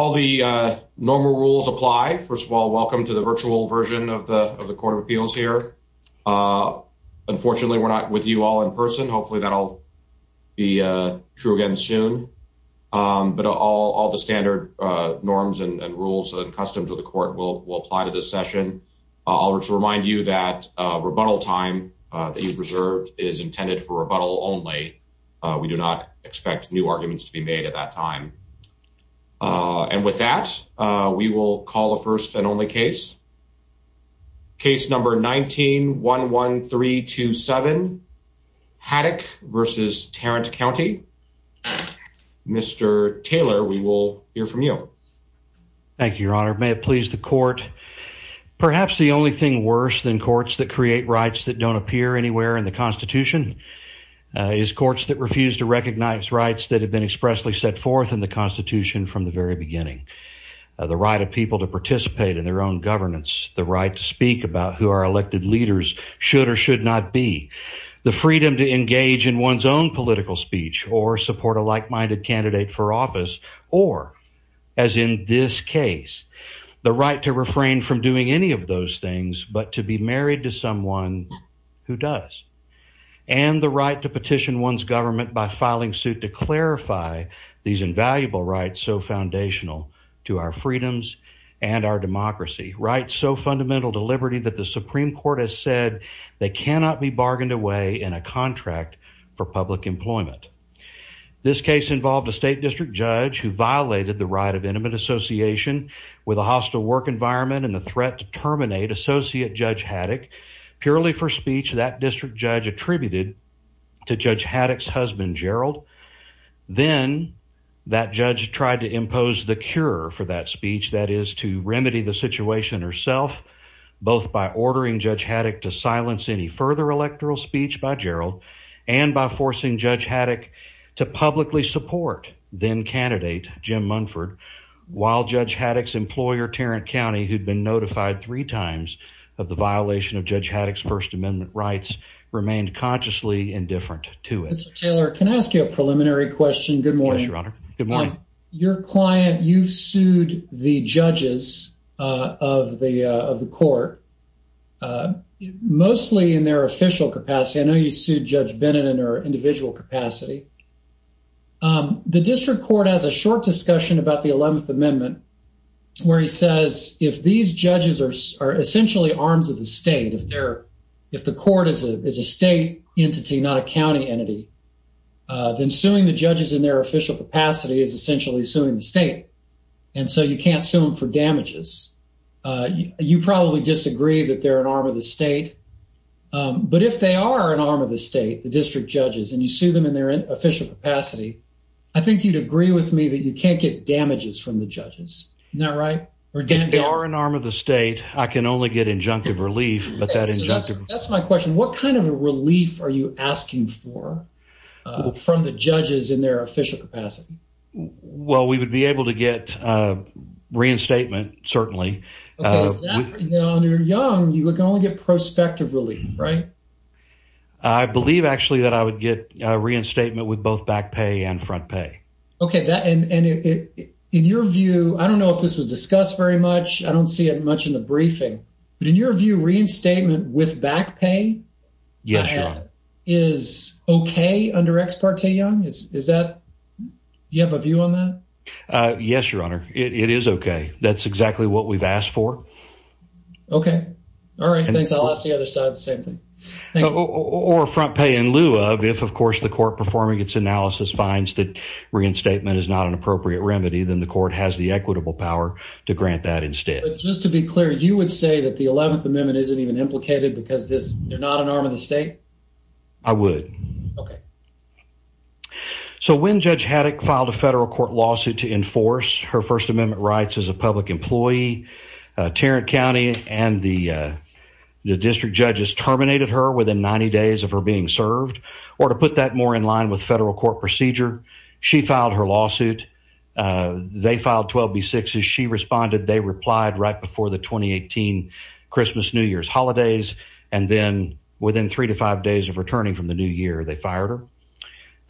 All the normal rules apply. First of all, welcome to the virtual version of the Court of Appeals here. Unfortunately, we're not with you all in person. Hopefully, that'll be true again soon. But all the standard norms and rules and customs of the court will apply to this session. I'll just remind you that rebuttal time that you've reserved is intended for rebuttal only. We do not expect new arguments to be made at that time. And with that, we will call the first and only case. Case number 19-11327, Haddock v. Tarrant County. Mr. Taylor, we will hear from you. Thank you, Your Honor. May it please the court. Perhaps the only thing worse than courts that create rights that don't appear anywhere in the Constitution is courts that refuse to recognize rights that have been expressly set forth in the Constitution from the very beginning. The right of people to participate in their own governance, the right to speak about who our elected leaders should or should not be, the freedom to engage in one's own political speech or support a like-minded candidate for office, or as in this case, the right to refrain from doing any of those things but to be married to someone who does, and the right to petition one's government by filing suit to clarify these invaluable rights so foundational to our freedoms and our democracy. Rights so fundamental to liberty that the Supreme Court has said they cannot be bargained away in a contract for public employment. This case involved a State District Judge who violated the right of intimate association with a hostile work environment and the threat to terminate Associate Judge Haddock purely for speech that District Judge attributed to Judge Haddock's husband, Gerald. Then that judge tried to impose the cure for that speech, that is to remedy the situation herself, both by ordering Judge Haddock to silence any further electoral speech by Gerald and by forcing Judge Haddock to publicly support then-candidate Jim Munford while Judge Haddock's employer, Tarrant County, who'd been notified three times of the violation of Judge Haddock's First Amendment rights, remained consciously indifferent to it. Mr. Taylor, can I ask you a preliminary question? Good morning, Your Honor. Good morning. Your client, you've sued the judges of the court, mostly in their official capacity. I know you sued Judge Bennett in her 2011th Amendment, where he says if these judges are essentially arms of the state, if the court is a state entity, not a county entity, then suing the judges in their official capacity is essentially suing the state, and so you can't sue them for damages. You probably disagree that they're an arm of the state, but if they are an arm of the state, the District Judges, and you sue them in official capacity, I think you'd agree with me that you can't get damages from the judges, isn't that right? If they are an arm of the state, I can only get injunctive relief, but that's my question. What kind of a relief are you asking for from the judges in their official capacity? Well, we would be able to get reinstatement, certainly. Okay, is that for young or young, you can only get prospective relief, right? I believe, actually, that I would get reinstatement with both back pay and front pay. Okay, and in your view, I don't know if this was discussed very much, I don't see it much in the briefing, but in your view, reinstatement with back pay is okay under Ex Parte Young? Do you have a view on that? Yes, Your Honor, it is okay. That's exactly what we've asked for. Okay, all right, thanks. I'll ask the other side the same thing. Or front pay in lieu of if, of course, the court performing its analysis finds that reinstatement is not an appropriate remedy, then the court has the equitable power to grant that instead. But just to be clear, you would say that the 11th Amendment isn't even implicated because you're not an arm of the state? I would. Okay. So when Judge Haddock filed a federal court lawsuit to enforce her First Amendment rights as a public employee, Tarrant County and the district judges terminated her within 90 days of her being served. Or to put that more in line with federal court procedure, she filed her lawsuit. They filed 12B6. As she responded, they replied right before the 2018 Christmas, New Year's holidays. And then within three to five days of returning from the new year, they fired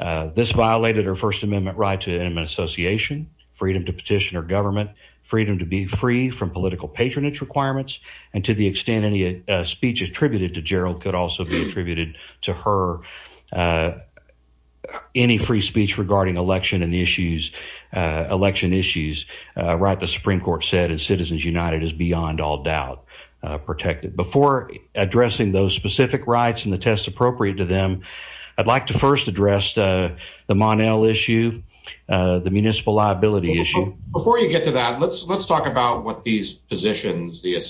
her. This violated her First Amendment right to an association, freedom to petition her government, freedom to be free from political patronage requirements, and to the extent any speech attributed to Gerald could also be attributed to her. Any free speech regarding election and the issues, election issues, right, the Supreme Court said, and Citizens United is beyond all doubt protected. Before addressing those specific rights and the tests appropriate to them, I'd like to first address the Mon-El issue, the municipal liability issue. Before you get to that, let's talk about what these positions, I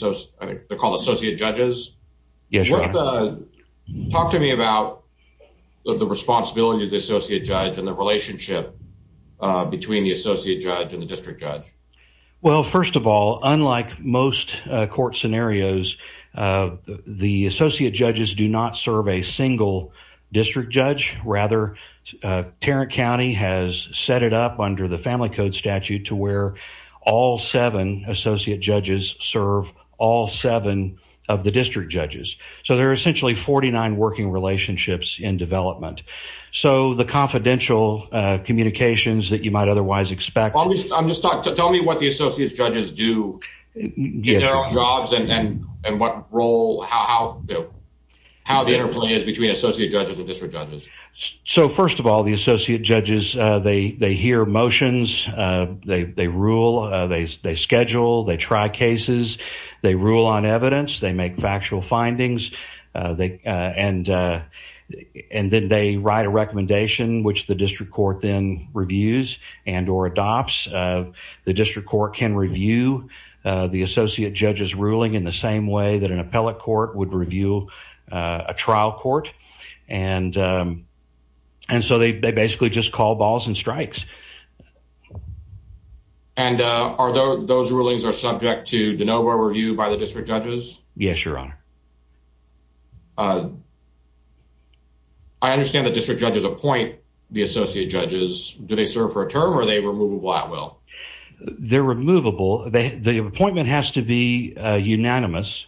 think they're called associate judges. Talk to me about the responsibility of the associate judge and the relationship between the associate judge and the district judge. Well, first of all, unlike most court scenarios, the associate judges do not serve a single district judge. Rather, Tarrant County has set it up under the Family Code statute to where all seven associate judges serve all seven of the district judges. So there are essentially 49 working relationships in development. So the confidential communications that you might otherwise expect. Tell me what the associate judges do, their jobs and what role, how the interplay is between the associate judges. They hear motions. They rule. They schedule. They try cases. They rule on evidence. They make factual findings. And then they write a recommendation, which the district court then reviews and or adopts. The district court can review the associate judge's ruling in the same way that an appellate court would review a trial court. And so they basically just call balls and strikes. And are those rulings are subject to de novo review by the district judges? Yes, your honor. I understand the district judges appoint the associate judges. Do they serve for a term or are they removable at will? They're removable. The appointment has to be unanimous.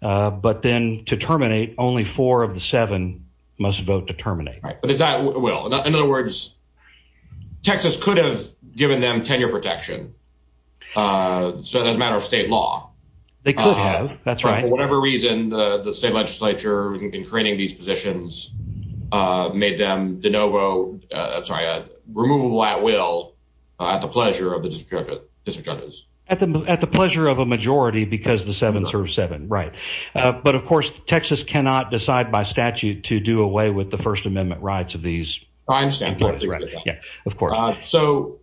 But then to terminate, only four of the seven must vote to terminate. In other words, Texas could have given them tenure protection as a matter of state law. They could have, that's right. For whatever reason, the state legislature in creating these positions made them de novo, sorry, removable at will at the pleasure of the district judges. At the pleasure of a majority because the seven serves seven. Right. But of course, Texas cannot decide by statute to do away with the First Amendment rights of these. I understand. Of course. So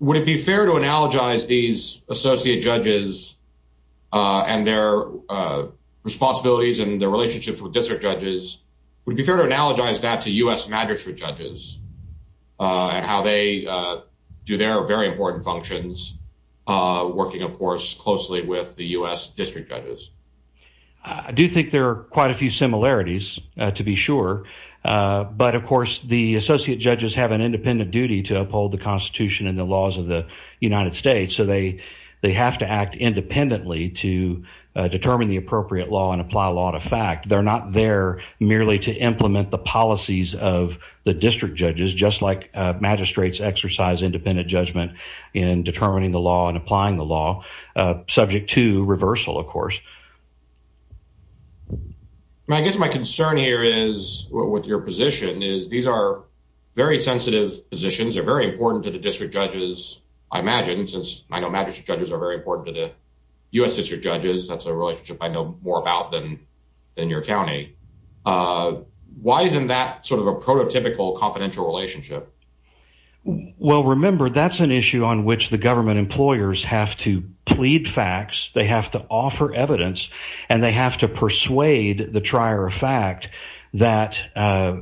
would it be fair to analogize these associate judges and their responsibilities and their relationships with district judges? Would it be fair to analogize that to U.S. magistrate judges and how they do their very important functions working, of course, closely with the U.S. district judges? I do think there are quite a few similarities to be sure. But of course, the associate judges have an independent duty to uphold the Constitution and the laws of the United States. So they they have to act independently to determine the appropriate law and apply law to fact. They're not there merely to implement the policies of the district judges, just like magistrates exercise independent judgment in determining the law and applying the law subject to reversal, of course. I guess my concern here is with your position is these are very sensitive positions. They're very important to the district judges, I imagine, since I know magistrate judges are very important to the U.S. district judges. That's a relationship I know more about than your county. Why isn't that sort of a prototypical confidential relationship? Well, remember, that's an issue on which the government employers have to plead facts. They have to offer evidence and they have to persuade the trier of fact that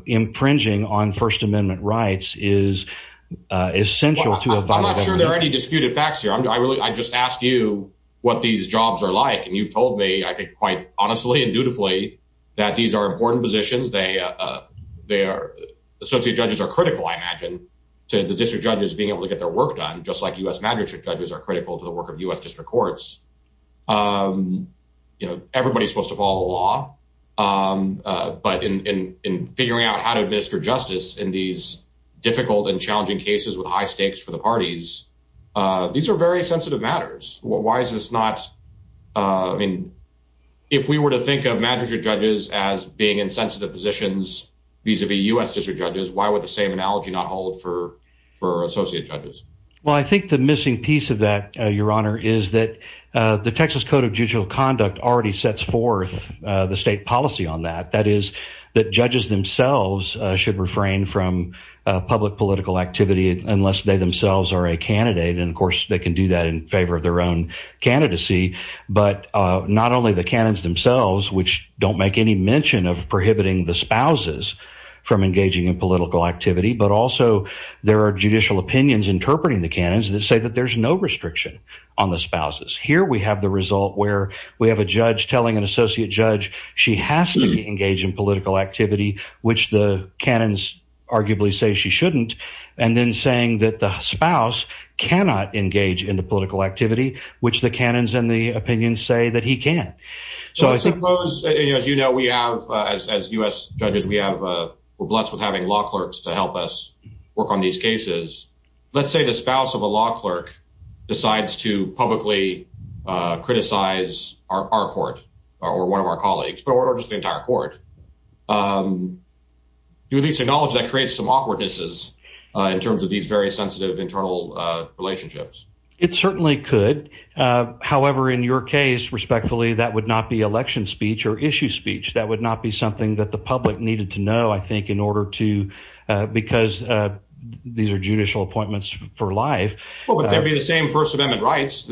infringing on First Amendment rights is essential. I'm not sure there are any disputed facts here. I just asked you what these jobs are like and you've told me, quite honestly and dutifully, that these are important positions. Associate judges are critical, I imagine, to the district judges being able to get their work done, just like U.S. magistrate judges are critical to the work of U.S. district courts. Everybody's supposed to follow the law, but in figuring out how to administer justice in these difficult and challenging cases with high stakes for the parties, these are very sensitive matters. Why is this not? I mean, if we were to think of magistrate judges as being in sensitive positions vis-a-vis U.S. district judges, why would the same analogy not hold for associate judges? Well, I think the missing piece of that, Your Honor, is that the Texas Code of Judicial Conduct already sets forth the state policy on that. That is, that judges themselves should refrain from public political activity unless they themselves are a candidate. And, of course, they can do that in favor of their own candidacy, but not only the canons themselves, which don't make any mention of prohibiting the spouses from engaging in political activity, but also there are judicial opinions interpreting the canons that say that there's no restriction on the spouses. Here we have the result where we have a judge telling an associate judge she has to engage in political activity, which the canons arguably say she shouldn't, and then saying that the spouse cannot engage in the political activity, which the canons and the opinions say that he can. So, I suppose, as you know, we have, as U.S. judges, we have, we're blessed with having law clerks to help us work on these cases. Let's say the spouse of a law clerk decides to publicly criticize our court or one of our colleagues or just the entire court. Do you at least acknowledge that creates some awkwardness in terms of these very sensitive internal relationships? It certainly could. However, in your case, respectfully, that would not be election speech or issue speech. That would not be something that the public needed to know, I think, in order to, because these are judicial appointments for life. Well, but there'd be the same First Amendment rights.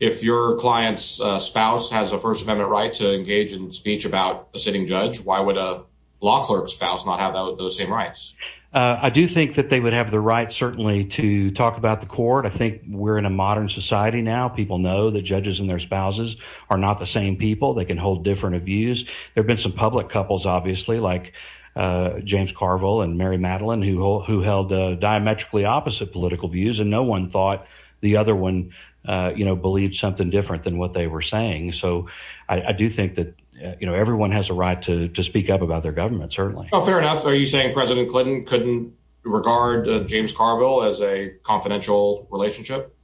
If your client's spouse has a First Amendment right to engage in speech about a sitting judge, why would a law clerk's spouse not have those same rights? I do think that they would have the right, certainly, to talk about the court. I think we're in a modern society now. People know that judges and their spouses are not the same people. They can hold different views. There have been some public couples, obviously, like James Carville and Mary Madeline, who held diametrically opposite political views, and no one thought the other one, you know, believed something different than what they were saying. So, I do think that, you know, everyone has a right to speak up about their government, certainly. Fair enough. Are you saying President Clinton couldn't regard James Carville as a confidential relationship?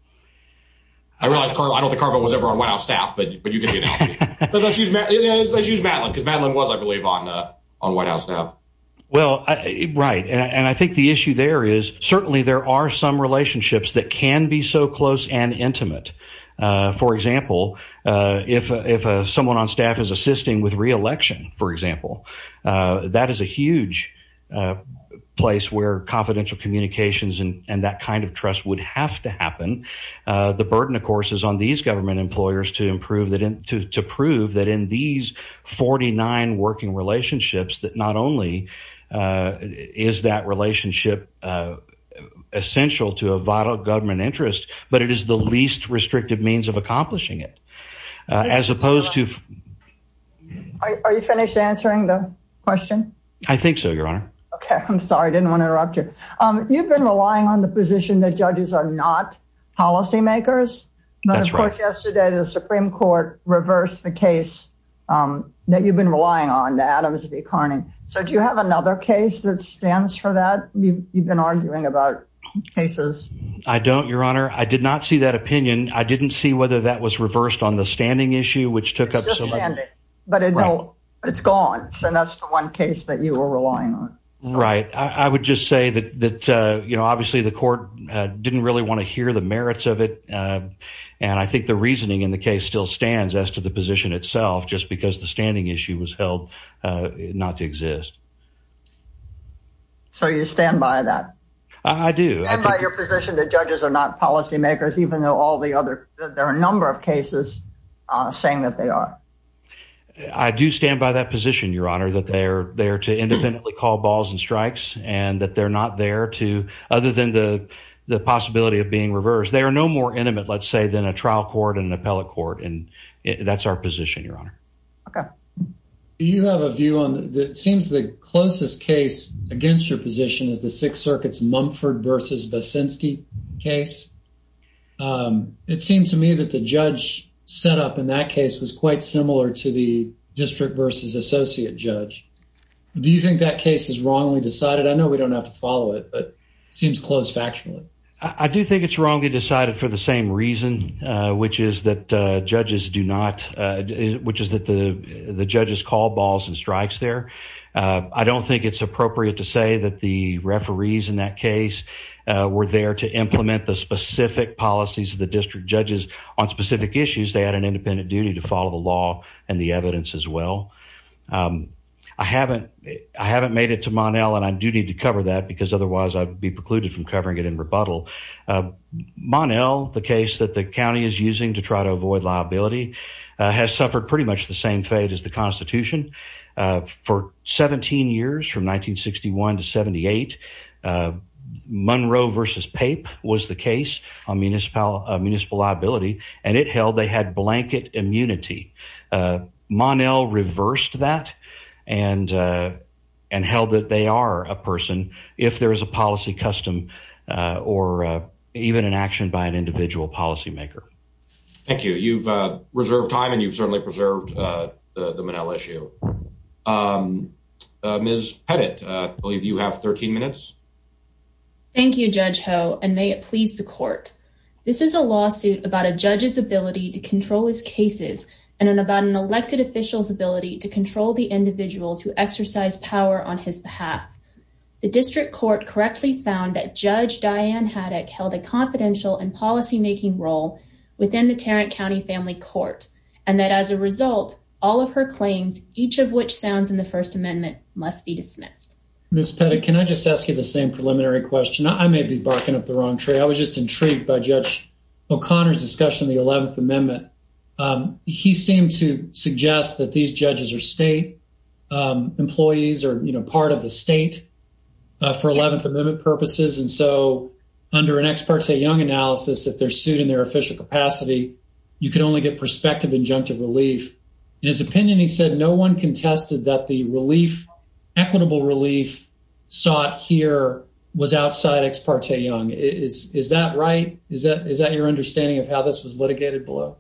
I realize, I don't think Carville was ever on White House staff, but you get the analogy. Let's use Madeline, because Madeline was, I believe, on White House staff. Well, right, and I think the issue there is, certainly, there are some relationships that can be so close and intimate. For example, if someone on staff is assisting with re-election, for example, that is a huge place where confidential communications and that kind of trust would have to happen. The burden, of course, is on these government employers to prove that in these 49 working relationships, that not only is that relationship essential to a vital government interest, but it is the least restrictive means of accomplishing it, as opposed to... Are you finished answering the question? I think so, Your Honor. Okay, I'm sorry, I didn't want to interrupt you. You've been relying on the position that judges are not policy makers, but of course, yesterday, the Supreme Court reversed the case that you've been relying on, the Adams v. Carney. So, do you have another case that stands for that? You've been arguing about cases. I don't, Your Honor. I did not see that opinion. I didn't see whether that was reversed on the standing issue, which took up... It's just standing, but it's gone. So, that's the one case that you were relying on. Right. I would just say that, you know, obviously the court didn't really want to hear the merits of it, and I think the reasoning in the case still stands as to the position itself, just because the standing issue was held not to exist. So, you stand by that? I do. And by your position that judges are not policy makers, even though all the other... saying that they are. I do stand by that position, Your Honor, that they are there to independently call balls and strikes, and that they're not there to... other than the possibility of being reversed. They are no more intimate, let's say, than a trial court and an appellate court, and that's our position, Your Honor. Okay. Do you have a view on... it seems the closest case against your position is the Sixth Circuit's Mumford v. Basinski case. It seems to me that the judge set up in that case was quite similar to the district v. associate judge. Do you think that case is wrongly decided? I know we don't have to follow it, but it seems close factually. I do think it's wrongly decided for the same reason, which is that judges do not... which is that the judges call balls and strikes there. I don't think it's appropriate to say that the referees in that case were there to implement the specific policies of the district judges on specific issues. They had an independent duty to follow the law and the evidence as well. I haven't... I haven't made it to Mon-El, and I do need to cover that because otherwise I'd be precluded from covering it in rebuttal. Mon-El, the case that the county is using to try to avoid liability, has suffered pretty much the same fate as the Constitution. For 17 years, from 1961 to and it held they had blanket immunity. Mon-El reversed that and held that they are a person if there is a policy custom or even an action by an individual policymaker. Thank you. You've reserved time and you've certainly preserved the Mon-El issue. Ms. Pettit, I believe you have 13 minutes. Thank you, Judge Ho, and may it please the court. This is a lawsuit about a judge's ability to control his cases and about an elected official's ability to control the individuals who exercise power on his behalf. The district court correctly found that Judge Diane Haddock held a confidential and policymaking role within the Tarrant County Family Court, and that as a result, all of her claims, each of which sounds in the First Amendment, must be dismissed. Ms. Pettit, can I just ask you the same preliminary question? I may be barking up the wrong tree. I was just intrigued by Judge O'Connor's discussion of the 11th Amendment. He seemed to suggest that these judges are state employees or, you know, part of the state for 11th Amendment purposes, and so under an ex parte young analysis, if they're sued in their official capacity, you can only get prospective injunctive relief. In his opinion, he said no one contested that the equitable relief sought here was outside ex parte young. Is that right? Is that your understanding of how this was litigated below?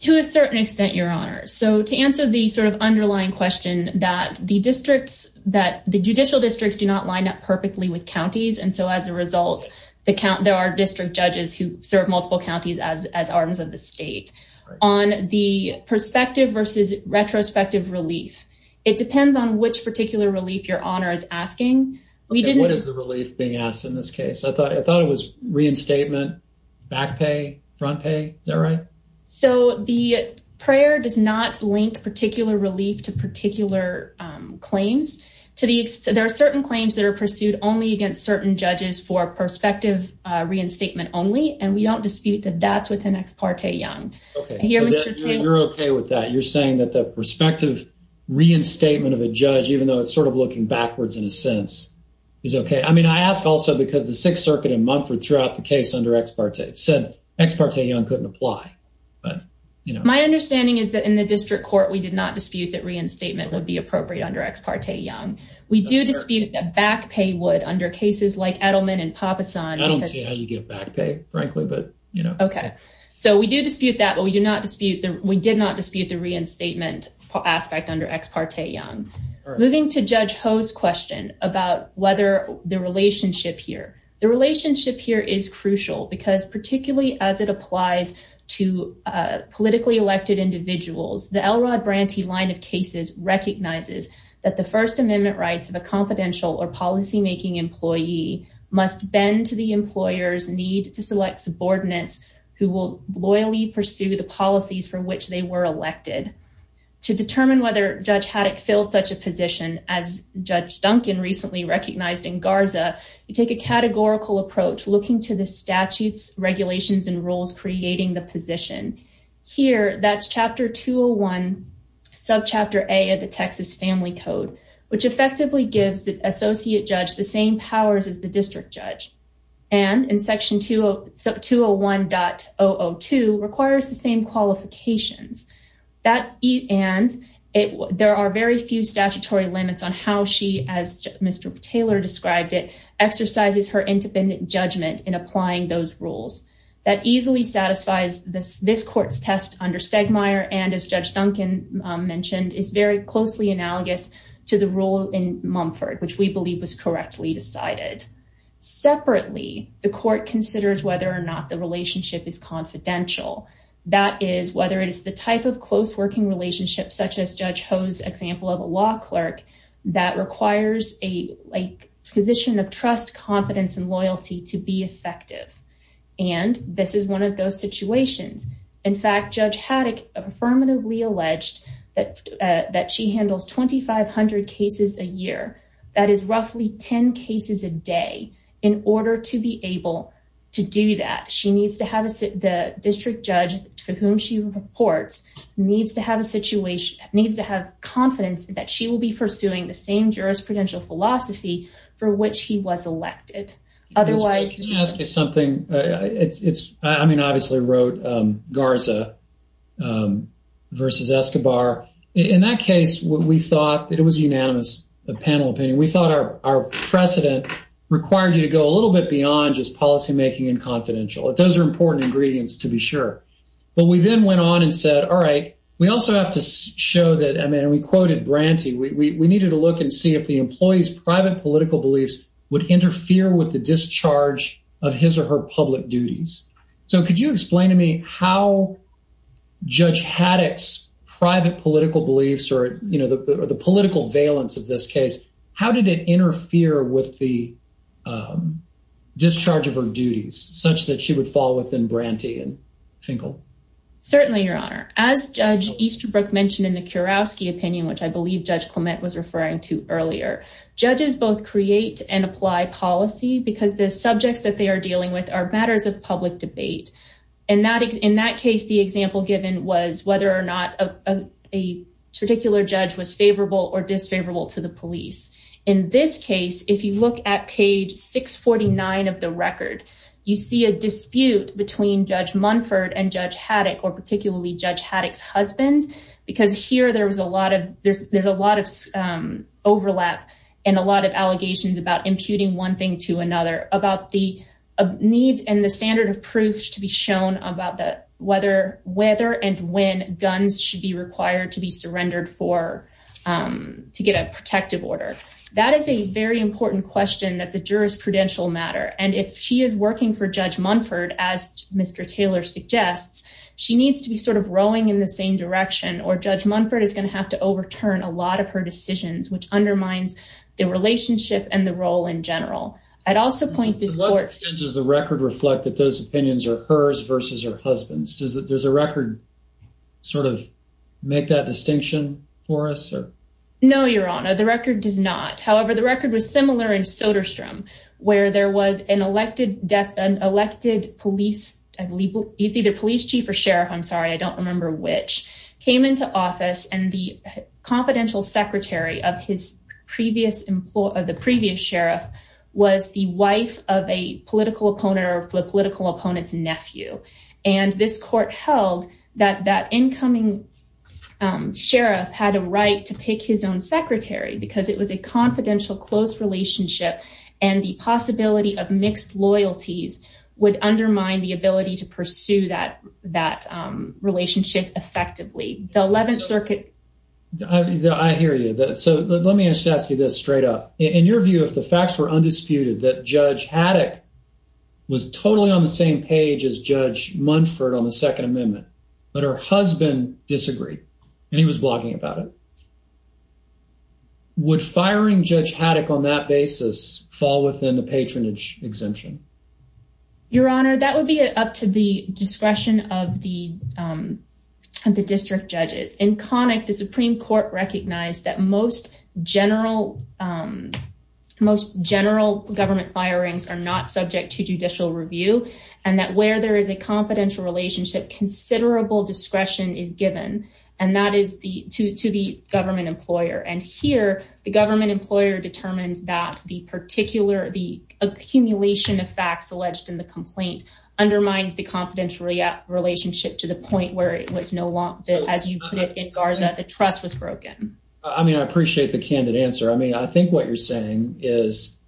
To a certain extent, Your Honor. So to answer the sort of underlying question that the judicial districts do not line up perfectly with counties, and so as a result, there are district judges who relief. It depends on which particular relief Your Honor is asking. What is the relief being asked in this case? I thought it was reinstatement, back pay, front pay. Is that right? So the prayer does not link particular relief to particular claims. There are certain claims that are pursued only against certain judges for prospective reinstatement only, and we don't dispute that that's with an ex parte young. Okay, you're okay with that. You're saying that the prospective reinstatement of a judge, even though it's sort of looking backwards in a sense, is okay. I mean, I ask also because the Sixth Circuit in Mumford throughout the case under ex parte said ex parte young couldn't apply. My understanding is that in the district court, we did not dispute that reinstatement would be appropriate under ex parte young. We do dispute that back pay would under cases like Edelman and we did not dispute the reinstatement aspect under ex parte young. Moving to Judge Ho's question about whether the relationship here, the relationship here is crucial because particularly as it applies to politically elected individuals, the Elrod Branty line of cases recognizes that the First Amendment rights of a confidential or policymaking employee must bend to the employer's to select subordinates who will loyally pursue the policies for which they were elected. To determine whether Judge Haddock filled such a position as Judge Duncan recently recognized in Garza, you take a categorical approach looking to the statutes, regulations, and rules creating the position. Here, that's Chapter 201, Subchapter A of the Texas Family Code, which effectively gives associate judge the same powers as the district judge and in Section 201.002 requires the same qualifications. There are very few statutory limits on how she, as Mr. Taylor described it, exercises her independent judgment in applying those rules. That easily satisfies this court's test under Stegmaier and as Judge Duncan mentioned, is very closely analogous to the rule in Mumford. We believe was correctly decided. Separately, the court considers whether or not the relationship is confidential. That is whether it is the type of close working relationship such as Judge Ho's example of a law clerk that requires a position of trust, confidence, and loyalty to be effective and this is one of those situations. In fact, Judge Haddock affirmatively alleged that she handles 2,500 cases a year. That is roughly 10 cases a day. In order to be able to do that, she needs to have the district judge for whom she reports needs to have a situation, needs to have confidence that she will be pursuing the same jurisprudential philosophy for which he was elected. Otherwise... Can I ask you something? I mean, obviously wrote Garza versus Escobar. In that case, what we thought, it was unanimous, the panel opinion, we thought our precedent required you to go a little bit beyond just policy making and confidential. Those are important ingredients to be sure. But we then went on and said, all right, we also have to show that, I mean, and we quoted Branty, we needed to look and see if the employee's private political beliefs would interfere with the discharge of his or her public duties. So, could you explain to me how Judge Haddock's private political beliefs or the political valence of this case, how did it interfere with the discharge of her duties such that she would fall within Branty and Finkel? Certainly, Your Honor. As Judge Easterbrook mentioned in the Kurowski opinion, which I believe Judge Clement was referring to earlier, judges both create and in that case, the example given was whether or not a particular judge was favorable or disfavorable to the police. In this case, if you look at page 649 of the record, you see a dispute between Judge Munford and Judge Haddock or particularly Judge Haddock's husband, because here there's a lot of overlap and a lot of allegations about imputing one thing to another, about the need and the standard of proof to be shown about whether and when guns should be required to be surrendered for to get a protective order. That is a very important question that's a jurisprudential matter. And if she is working for Judge Munford, as Mr. Taylor suggests, she needs to be sort of rowing in the same direction or Judge Munford is going to have to overturn a lot of her decisions, which undermines the relationship and the role in this court. Does the record reflect that those opinions are hers versus her husband's? Does a record sort of make that distinction for us? No, your honor, the record does not. However, the record was similar in Soderstrom, where there was an elected police chief or sheriff, I'm sorry, I don't remember which, came into office and the confidential secretary of his previous, the previous sheriff, was the wife of a political opponent or the political opponent's nephew. And this court held that that incoming sheriff had a right to pick his own secretary because it was a confidential close relationship and the possibility of mixed loyalties would undermine the ability to pursue that relationship effectively. The 11th Circuit- I hear you. So let me just ask you this straight up. In your view, if the facts were undisputed that Judge Haddock was totally on the same page as Judge Munford on the Second Amendment, but her husband disagreed and he was blogging about it, would firing Judge Haddock on that basis fall within the patronage exemption? Your honor, that would be up to the discretion of the district judges. In Connick, the Supreme Court recognized that most general government firings are not subject to judicial review and that where there is a confidential relationship, considerable discretion is given to the government employer. And here, the government employer determined that the particular, the accumulation of facts alleged in the complaint undermined the confidential relationship to the I mean, I appreciate the candid answer. I mean, I think what you're saying is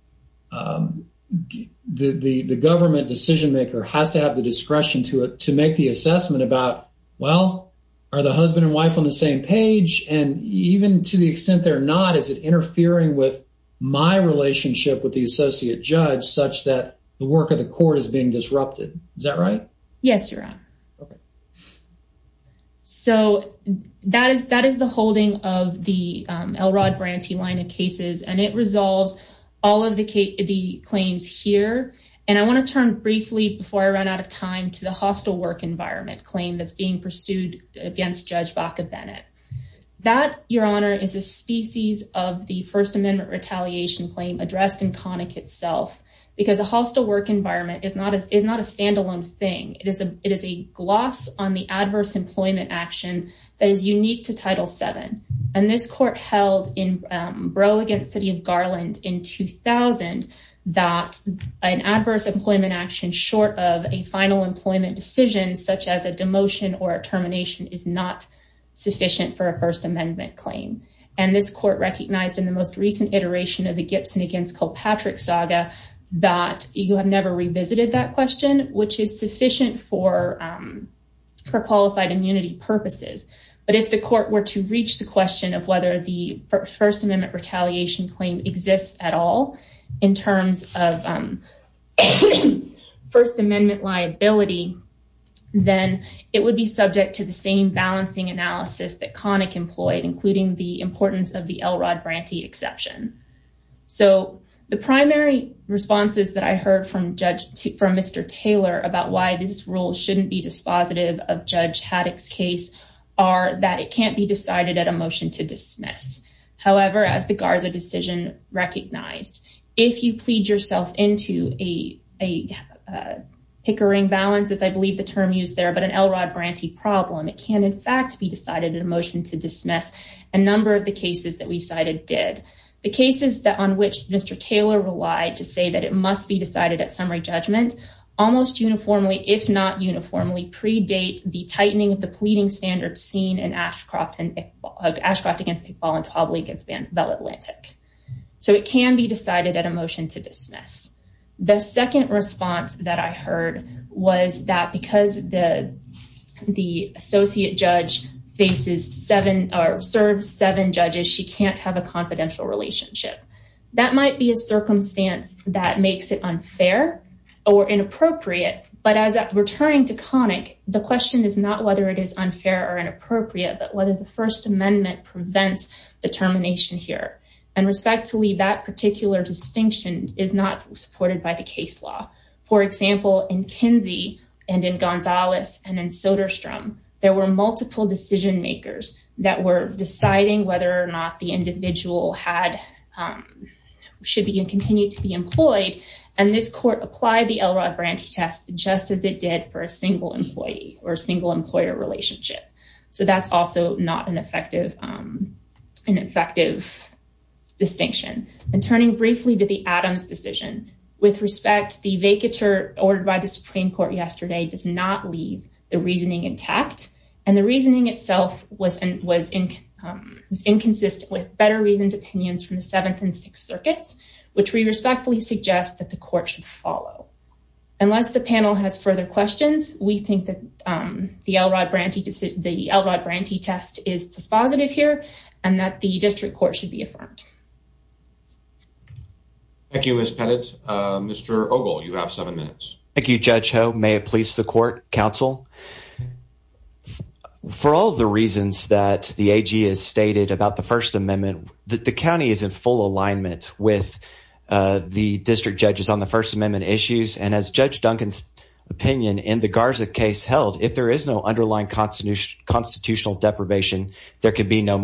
the government decision maker has to have the discretion to make the assessment about, well, are the husband and wife on the same page? And even to the extent they're not, is it interfering with my relationship with the associate judge such that the work of the court is being disrupted? Is that right? Yes, your honor. So that is the holding of the Elrod-Branty line of cases and it resolves all of the claims here. And I want to turn briefly before I run out of time to the hostile work environment claim that's being pursued against Judge Baca-Bennett. That, your honor, is a species of the First Amendment retaliation claim addressed in Connick itself because a it is a gloss on the adverse employment action that is unique to Title VII. And this court held in Brough v. City of Garland in 2000 that an adverse employment action short of a final employment decision such as a demotion or a termination is not sufficient for a First Amendment claim. And this court recognized in the most recent iteration of the Gibson v. Kilpatrick saga that you have never revisited that question, which is sufficient for qualified immunity purposes. But if the court were to reach the question of whether the First Amendment retaliation claim exists at all in terms of First Amendment liability, then it would be subject to the same balancing analysis that Connick employed, including the importance of the Elrod-Branty exception. So the primary responses that I heard from Mr. Taylor about why this rule shouldn't be dispositive of Judge Haddock's case are that it can't be decided at a motion to dismiss. However, as the Garza decision recognized, if you plead yourself into a pickering balance, as I believe the term used there, but an Elrod-Branty problem, it can in fact be decided at a motion to dismiss. A number of the cases that we cited did. The cases that on which Mr. Taylor relied to say that it must be decided at summary judgment almost uniformly, if not uniformly, predate the tightening of the pleading standards seen in Ashcroft against Iqbal and Tobley against Bell Atlantic. So it can be decided at a motion to dismiss. The second response that I heard was that the associate judge serves seven judges. She can't have a confidential relationship. That might be a circumstance that makes it unfair or inappropriate, but as returning to Connick, the question is not whether it is unfair or inappropriate, but whether the First Amendment prevents the termination here. And respectfully, that particular distinction is not supported by case law. For example, in Kinsey and in Gonzalez and in Soderstrom, there were multiple decision makers that were deciding whether or not the individual should continue to be employed. And this court applied the Elrod-Branty test just as it did for a single employee or a single employer relationship. So that's also not an effective distinction. And turning briefly to the Adams decision, with respect, the vacatur ordered by the Supreme Court yesterday does not leave the reasoning intact. And the reasoning itself was inconsistent with better reasoned opinions from the Seventh and Sixth Circuits, which we respectfully suggest that the court should follow. Unless the panel has further questions, we think that the Elrod-Branty test is dispositive here and that the district court should be affirmed. Thank you, Ms. Pettit. Mr. Ogle, you have seven minutes. Thank you, Judge Ho. May it please the court, counsel. For all the reasons that the AG has stated about the First Amendment, the county is in full alignment with the district judges on the First Amendment issues. And as Judge Duncan's opinion in the Garza case held, if there is no underlying constitutional deprivation, there could be no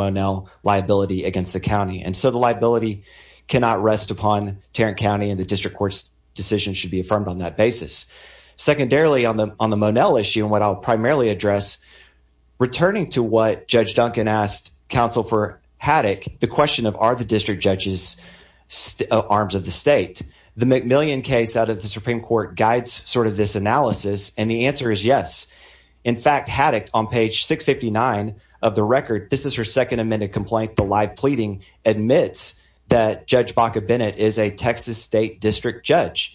cannot rest upon Tarrant County and the district court's decision should be affirmed on that basis. Secondarily, on the Monell issue and what I'll primarily address, returning to what Judge Duncan asked counsel for Haddock, the question of are the district judges arms of the state. The McMillian case out of the Supreme Court guides sort of this analysis. And the answer is yes. In fact, Haddock on page 659 of the record, this is her second amended complaint. The live pleading admits that Judge Baca Bennett is a Texas state district judge.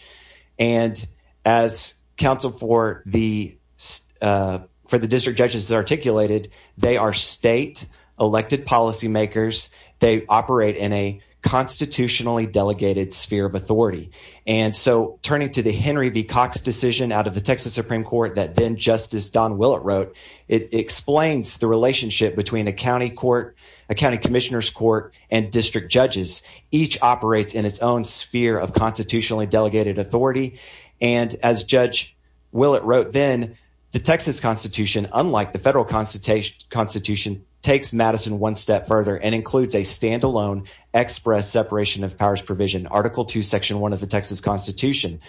And as counsel for the for the district judges articulated, they are state elected policymakers. They operate in a constitutionally delegated sphere of authority. And so turning to the Henry B. Cox decision out of the Texas Supreme Court that then Justice Don Willett wrote, it explains the relationship between a county court, a county commissioner's court and district judges. Each operates in its own sphere of constitutionally delegated authority. And as Judge Willett wrote, then the Texas Constitution, unlike the federal constitution, takes Madison one step further and includes a standalone express separation of powers provision, Article 2, Section 1 of the Texas Constitution,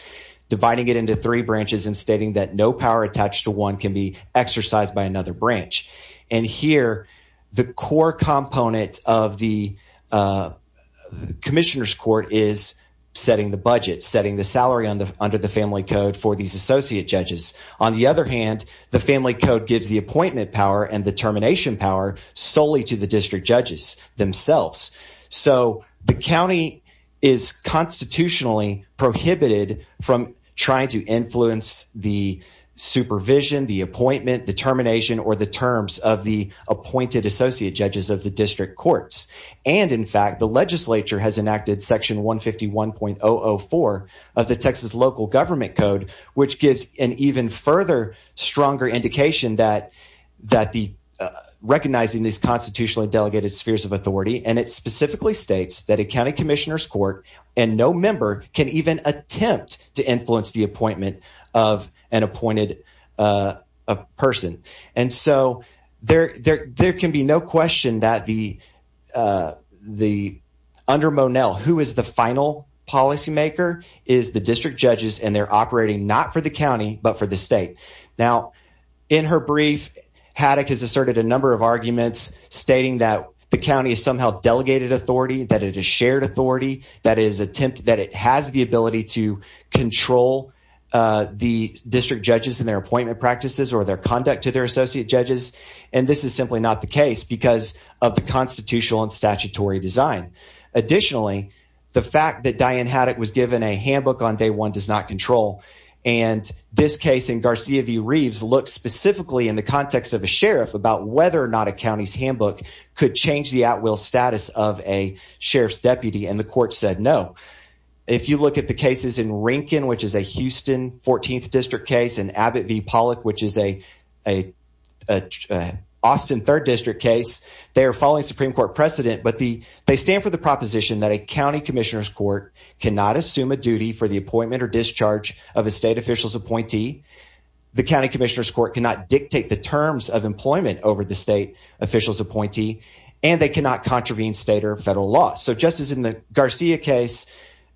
dividing it into three branches and stating that no power attached to one can be exercised by another branch. And here, the core component of the commissioner's court is setting the budget, setting the salary under the family code for these associate judges. On the other hand, the family code gives the appointment power and the termination power solely to the district judges themselves. So the county is constitutionally prohibited from trying to influence the appointment, the termination or the terms of the appointed associate judges of the district courts. And in fact, the legislature has enacted Section 151.004 of the Texas local government code, which gives an even further, stronger indication that recognizing these constitutionally delegated spheres of authority. And it specifically states that a county commissioner's court and no member can even attempt to influence the appointment of an appointed person. And so there can be no question that under Monell, who is the final policymaker, is the district judges and they're operating not for the county, but for the state. Now, in her brief, Haddock has asserted a number of arguments stating that the county is somehow delegated authority, that it is shared authority, that it has the ability to control the district judges and their appointment practices or their conduct to their associate judges. And this is simply not the case because of the constitutional and statutory design. Additionally, the fact that Diane Haddock was given a handbook on day one does not control. And this case in Garcia v. Reeves looks specifically in the context of a sheriff about whether or not a county's handbook could change the at-will status of a sheriff's deputy. And the court said no. If you look at the cases in Rankin, which is a Houston 14th district case, and Abbott v. Pollock, which is a Austin 3rd district case, they are following Supreme Court precedent, but they stand for the proposition that a county commissioner's court cannot assume a duty for the appointment or discharge of a state official's appointee. The county commissioner's court cannot dictate the terms of employment over the state official's appointee, and they cannot contravene state or federal law. So just as in the Garcia case,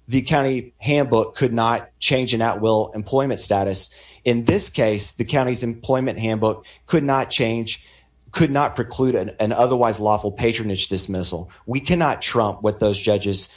the county handbook could not change an at-will employment status. In this case, the county's employment handbook could not change, could not preclude an otherwise lawful patronage dismissal. We cannot trump what those judges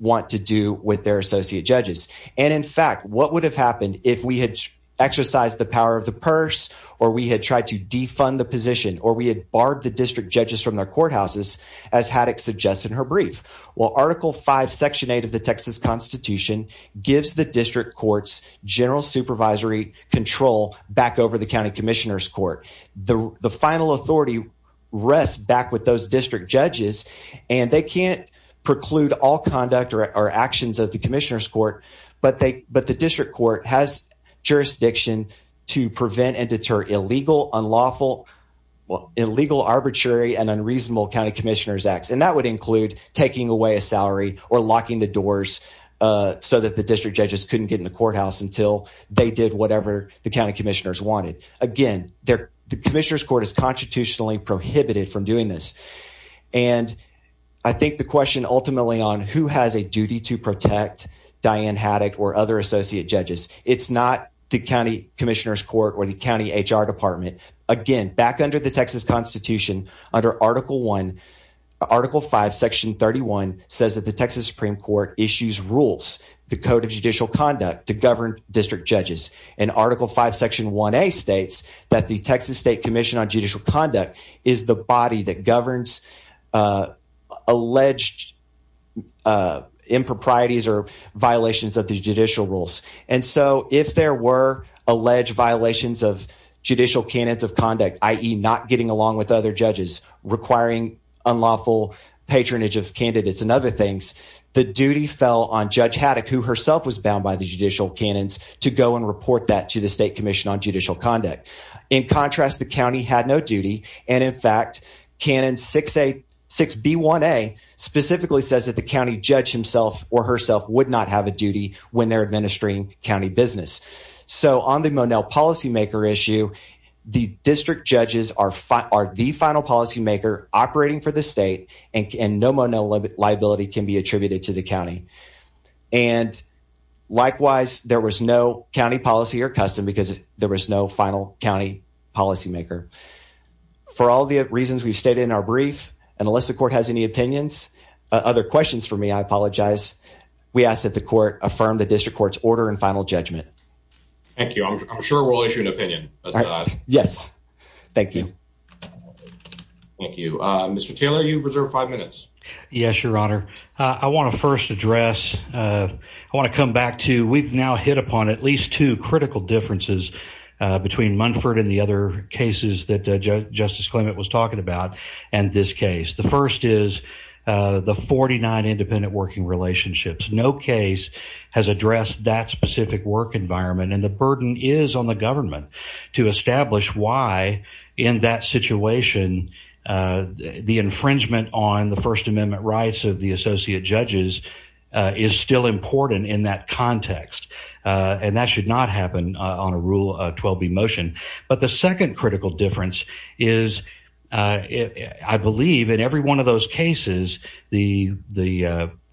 want to do with their associate judges. And in fact, what would have happened if we had exercised the power of purse, or we had tried to defund the position, or we had barred the district judges from their courthouses, as Haddock suggests in her brief? Well, Article 5, Section 8 of the Texas Constitution gives the district courts general supervisory control back over the county commissioner's court. The final authority rests back with those district judges, and they can't preclude all conduct or actions of the commissioner's court, but the district court has jurisdiction to prevent and deter illegal, unlawful, illegal, arbitrary, and unreasonable county commissioner's acts. And that would include taking away a salary or locking the doors so that the district judges couldn't get in the courthouse until they did whatever the county commissioners wanted. Again, the commissioner's court is constitutionally prohibited from doing this. And I think the question ultimately on who has a duty to protect Diane Haddock or other associate judges. It's not the county commissioner's court or the county HR department. Again, back under the Texas Constitution, under Article 1, Article 5, Section 31 says that the Texas Supreme Court issues rules, the Code of Judicial Conduct, to govern district judges. And Article 5, Section 1A states that the Texas State Commission on Improprieties or Violations of the Judicial Rules. And so if there were alleged violations of judicial canons of conduct, i.e. not getting along with other judges, requiring unlawful patronage of candidates and other things, the duty fell on Judge Haddock, who herself was bound by the judicial canons, to go and report that to the State Commission on Judicial Conduct. In contrast, the county had no duty. And in fact, Canon 6B1A specifically says that the county judge himself or herself would not have a duty when they're administering county business. So on the Monell Policymaker issue, the district judges are the final policymaker operating for the state and no Monell liability can be attributed to the county. And likewise, there was no county policy or custom because there was no final county policymaker. For all the reasons we've stated in our brief, and unless the court has any opinions, other questions for me, I apologize, we ask that the court affirm the district court's order and final judgment. Thank you. I'm sure we'll issue an opinion. Yes. Thank you. Thank you. Mr. Taylor, you reserve five minutes. Yes, Your Honor. I want to first address, I want to come back to, we've now hit upon at least two critical differences between Munford and the other cases that Justice Clement was talking about and this case. The first is the 49 independent working relationships. No case has addressed that specific work environment. And the burden is on the government to establish why in that situation the infringement on the First Amendment rights of the associate judges is still important in that context. And that should not happen on a Rule 12b motion. But the second critical difference is, I believe in every one of those cases, the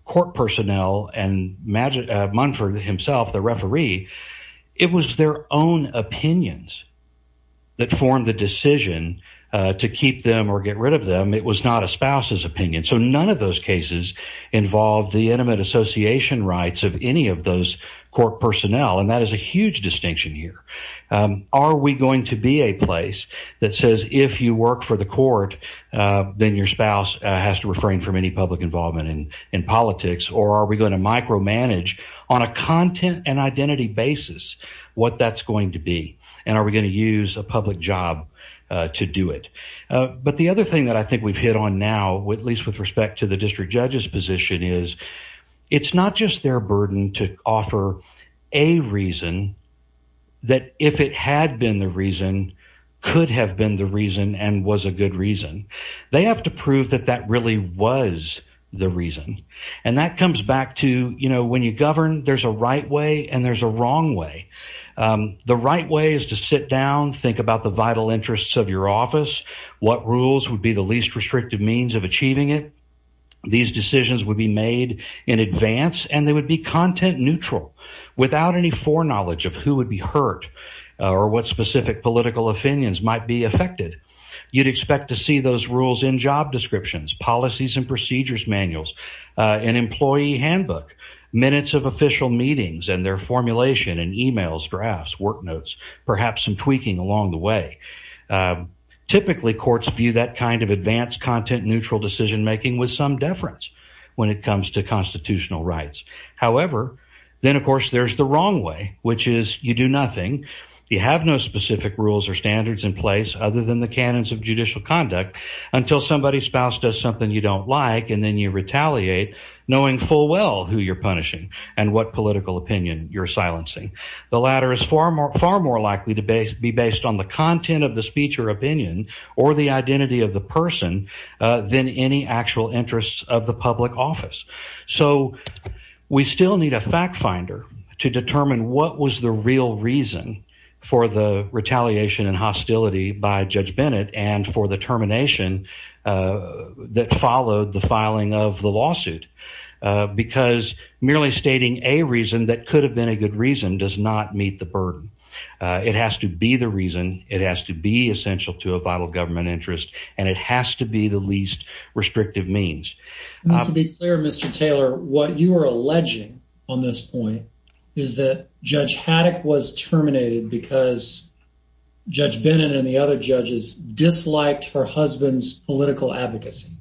court personnel and Munford himself, the referee, it was their own opinions that formed the decision to keep them or get rid of them. It was not a spouse's opinion. So none of those cases involve the intimate association rights of any of those court personnel. And that is a huge distinction here. Are we going to be a place that says if you work for the court, then your spouse has to refrain from any public involvement in politics? Or are we going to micromanage on a content and identity basis what that's going to on now, at least with respect to the district judge's position, is it's not just their burden to offer a reason that if it had been the reason could have been the reason and was a good reason. They have to prove that that really was the reason. And that comes back to, you know, when you govern, there's a right way and there's a wrong way. The right way is to sit down, think about the vital of achieving it. These decisions would be made in advance and they would be content neutral without any foreknowledge of who would be hurt or what specific political opinions might be affected. You'd expect to see those rules in job descriptions, policies and procedures manuals, an employee handbook, minutes of official meetings and their formulation in emails, drafts, work notes, perhaps some tweaking along the way. Typically, courts view that kind of advanced content neutral decision making with some deference when it comes to constitutional rights. However, then, of course, there's the wrong way, which is you do nothing. You have no specific rules or standards in place other than the canons of judicial conduct until somebody's spouse does something you don't like and then you retaliate knowing full well who you're punishing and what far more likely to be based on the content of the speech or opinion or the identity of the person than any actual interests of the public office. So we still need a fact finder to determine what was the real reason for the retaliation and hostility by Judge Bennett and for the termination that followed the filing of the lawsuit because merely stating a reason that could have been a reason does not meet the burden. It has to be the reason, it has to be essential to a vital government interest and it has to be the least restrictive means. To be clear, Mr. Taylor, what you are alleging on this point is that Judge Haddock was terminated because Judge Bennett and the other judges disliked her husband's political advocacy.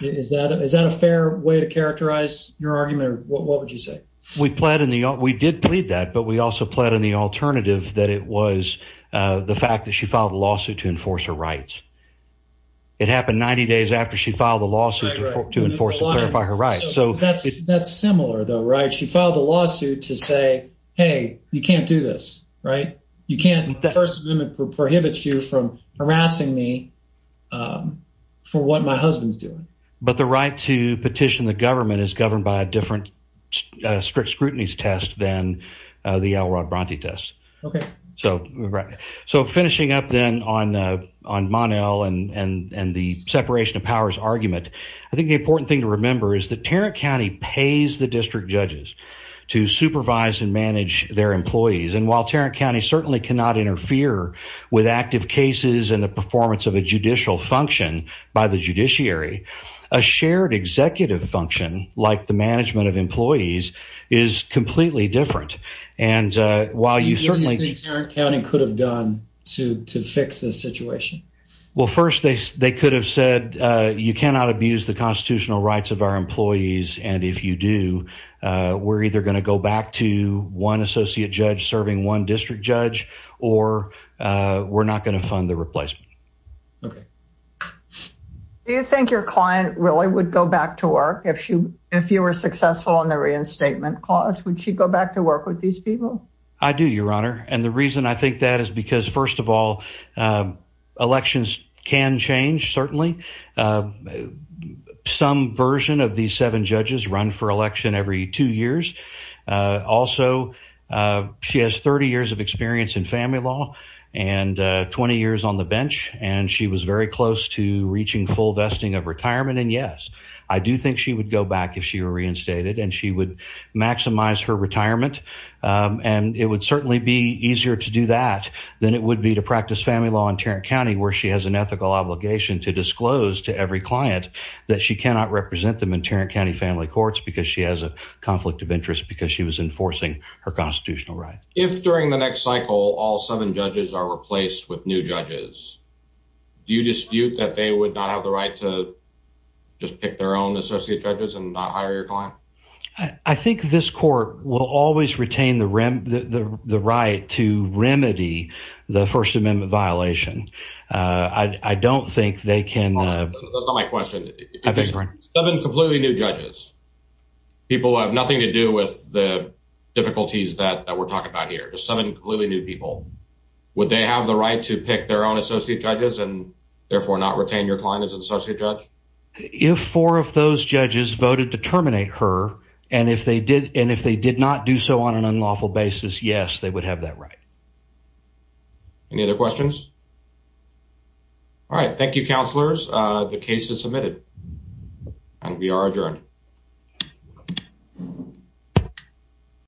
Is that a fair way to characterize your argument or what would you say? We did plead that but we also pled in the alternative that it was the fact that she filed a lawsuit to enforce her rights. It happened 90 days after she filed the lawsuit to enforce and clarify her rights. That's similar though, right? She filed a lawsuit to say, hey, you can't do this, right? The First Amendment prohibits you from harassing me for what my husband's doing. But the right to petition the government is governed by a different strict scrutinies test than the Alrod Bronte test. Okay. So, right. So, finishing up then on Mon-El and the separation of powers argument, I think the important thing to remember is that Tarrant County pays the district judges to supervise and manage their employees and while in the performance of a judicial function by the judiciary, a shared executive function like the management of employees is completely different. And while you certainly think Tarrant County could have done to fix this situation? Well, first, they could have said, you cannot abuse the constitutional rights of our employees and if you do, we're either going to go fund the replacement. Okay. Do you think your client really would go back to work if you were successful in the reinstatement clause? Would she go back to work with these people? I do, your honor. And the reason I think that is because, first of all, elections can change, certainly. Some version of these seven judges run for election every two years. Also, she has 30 of experience in family law and 20 years on the bench and she was very close to reaching full vesting of retirement and yes, I do think she would go back if she were reinstated and she would maximize her retirement and it would certainly be easier to do that than it would be to practice family law in Tarrant County where she has an ethical obligation to disclose to every client that she cannot represent them in Tarrant County family courts because she has a all seven judges are replaced with new judges. Do you dispute that they would not have the right to just pick their own associate judges and not hire your client? I think this court will always retain the right to remedy the First Amendment violation. I don't think they can. That's not my question. Seven completely new judges. People have nothing to do with the difficulties that we're talking about here. Just seven completely new people. Would they have the right to pick their own associate judges and therefore not retain your client as an associate judge? If four of those judges voted to terminate her and if they did and if they did not do so on an unlawful basis, yes, they would have that right. Any other questions? All right. Thank you, counselors. The case is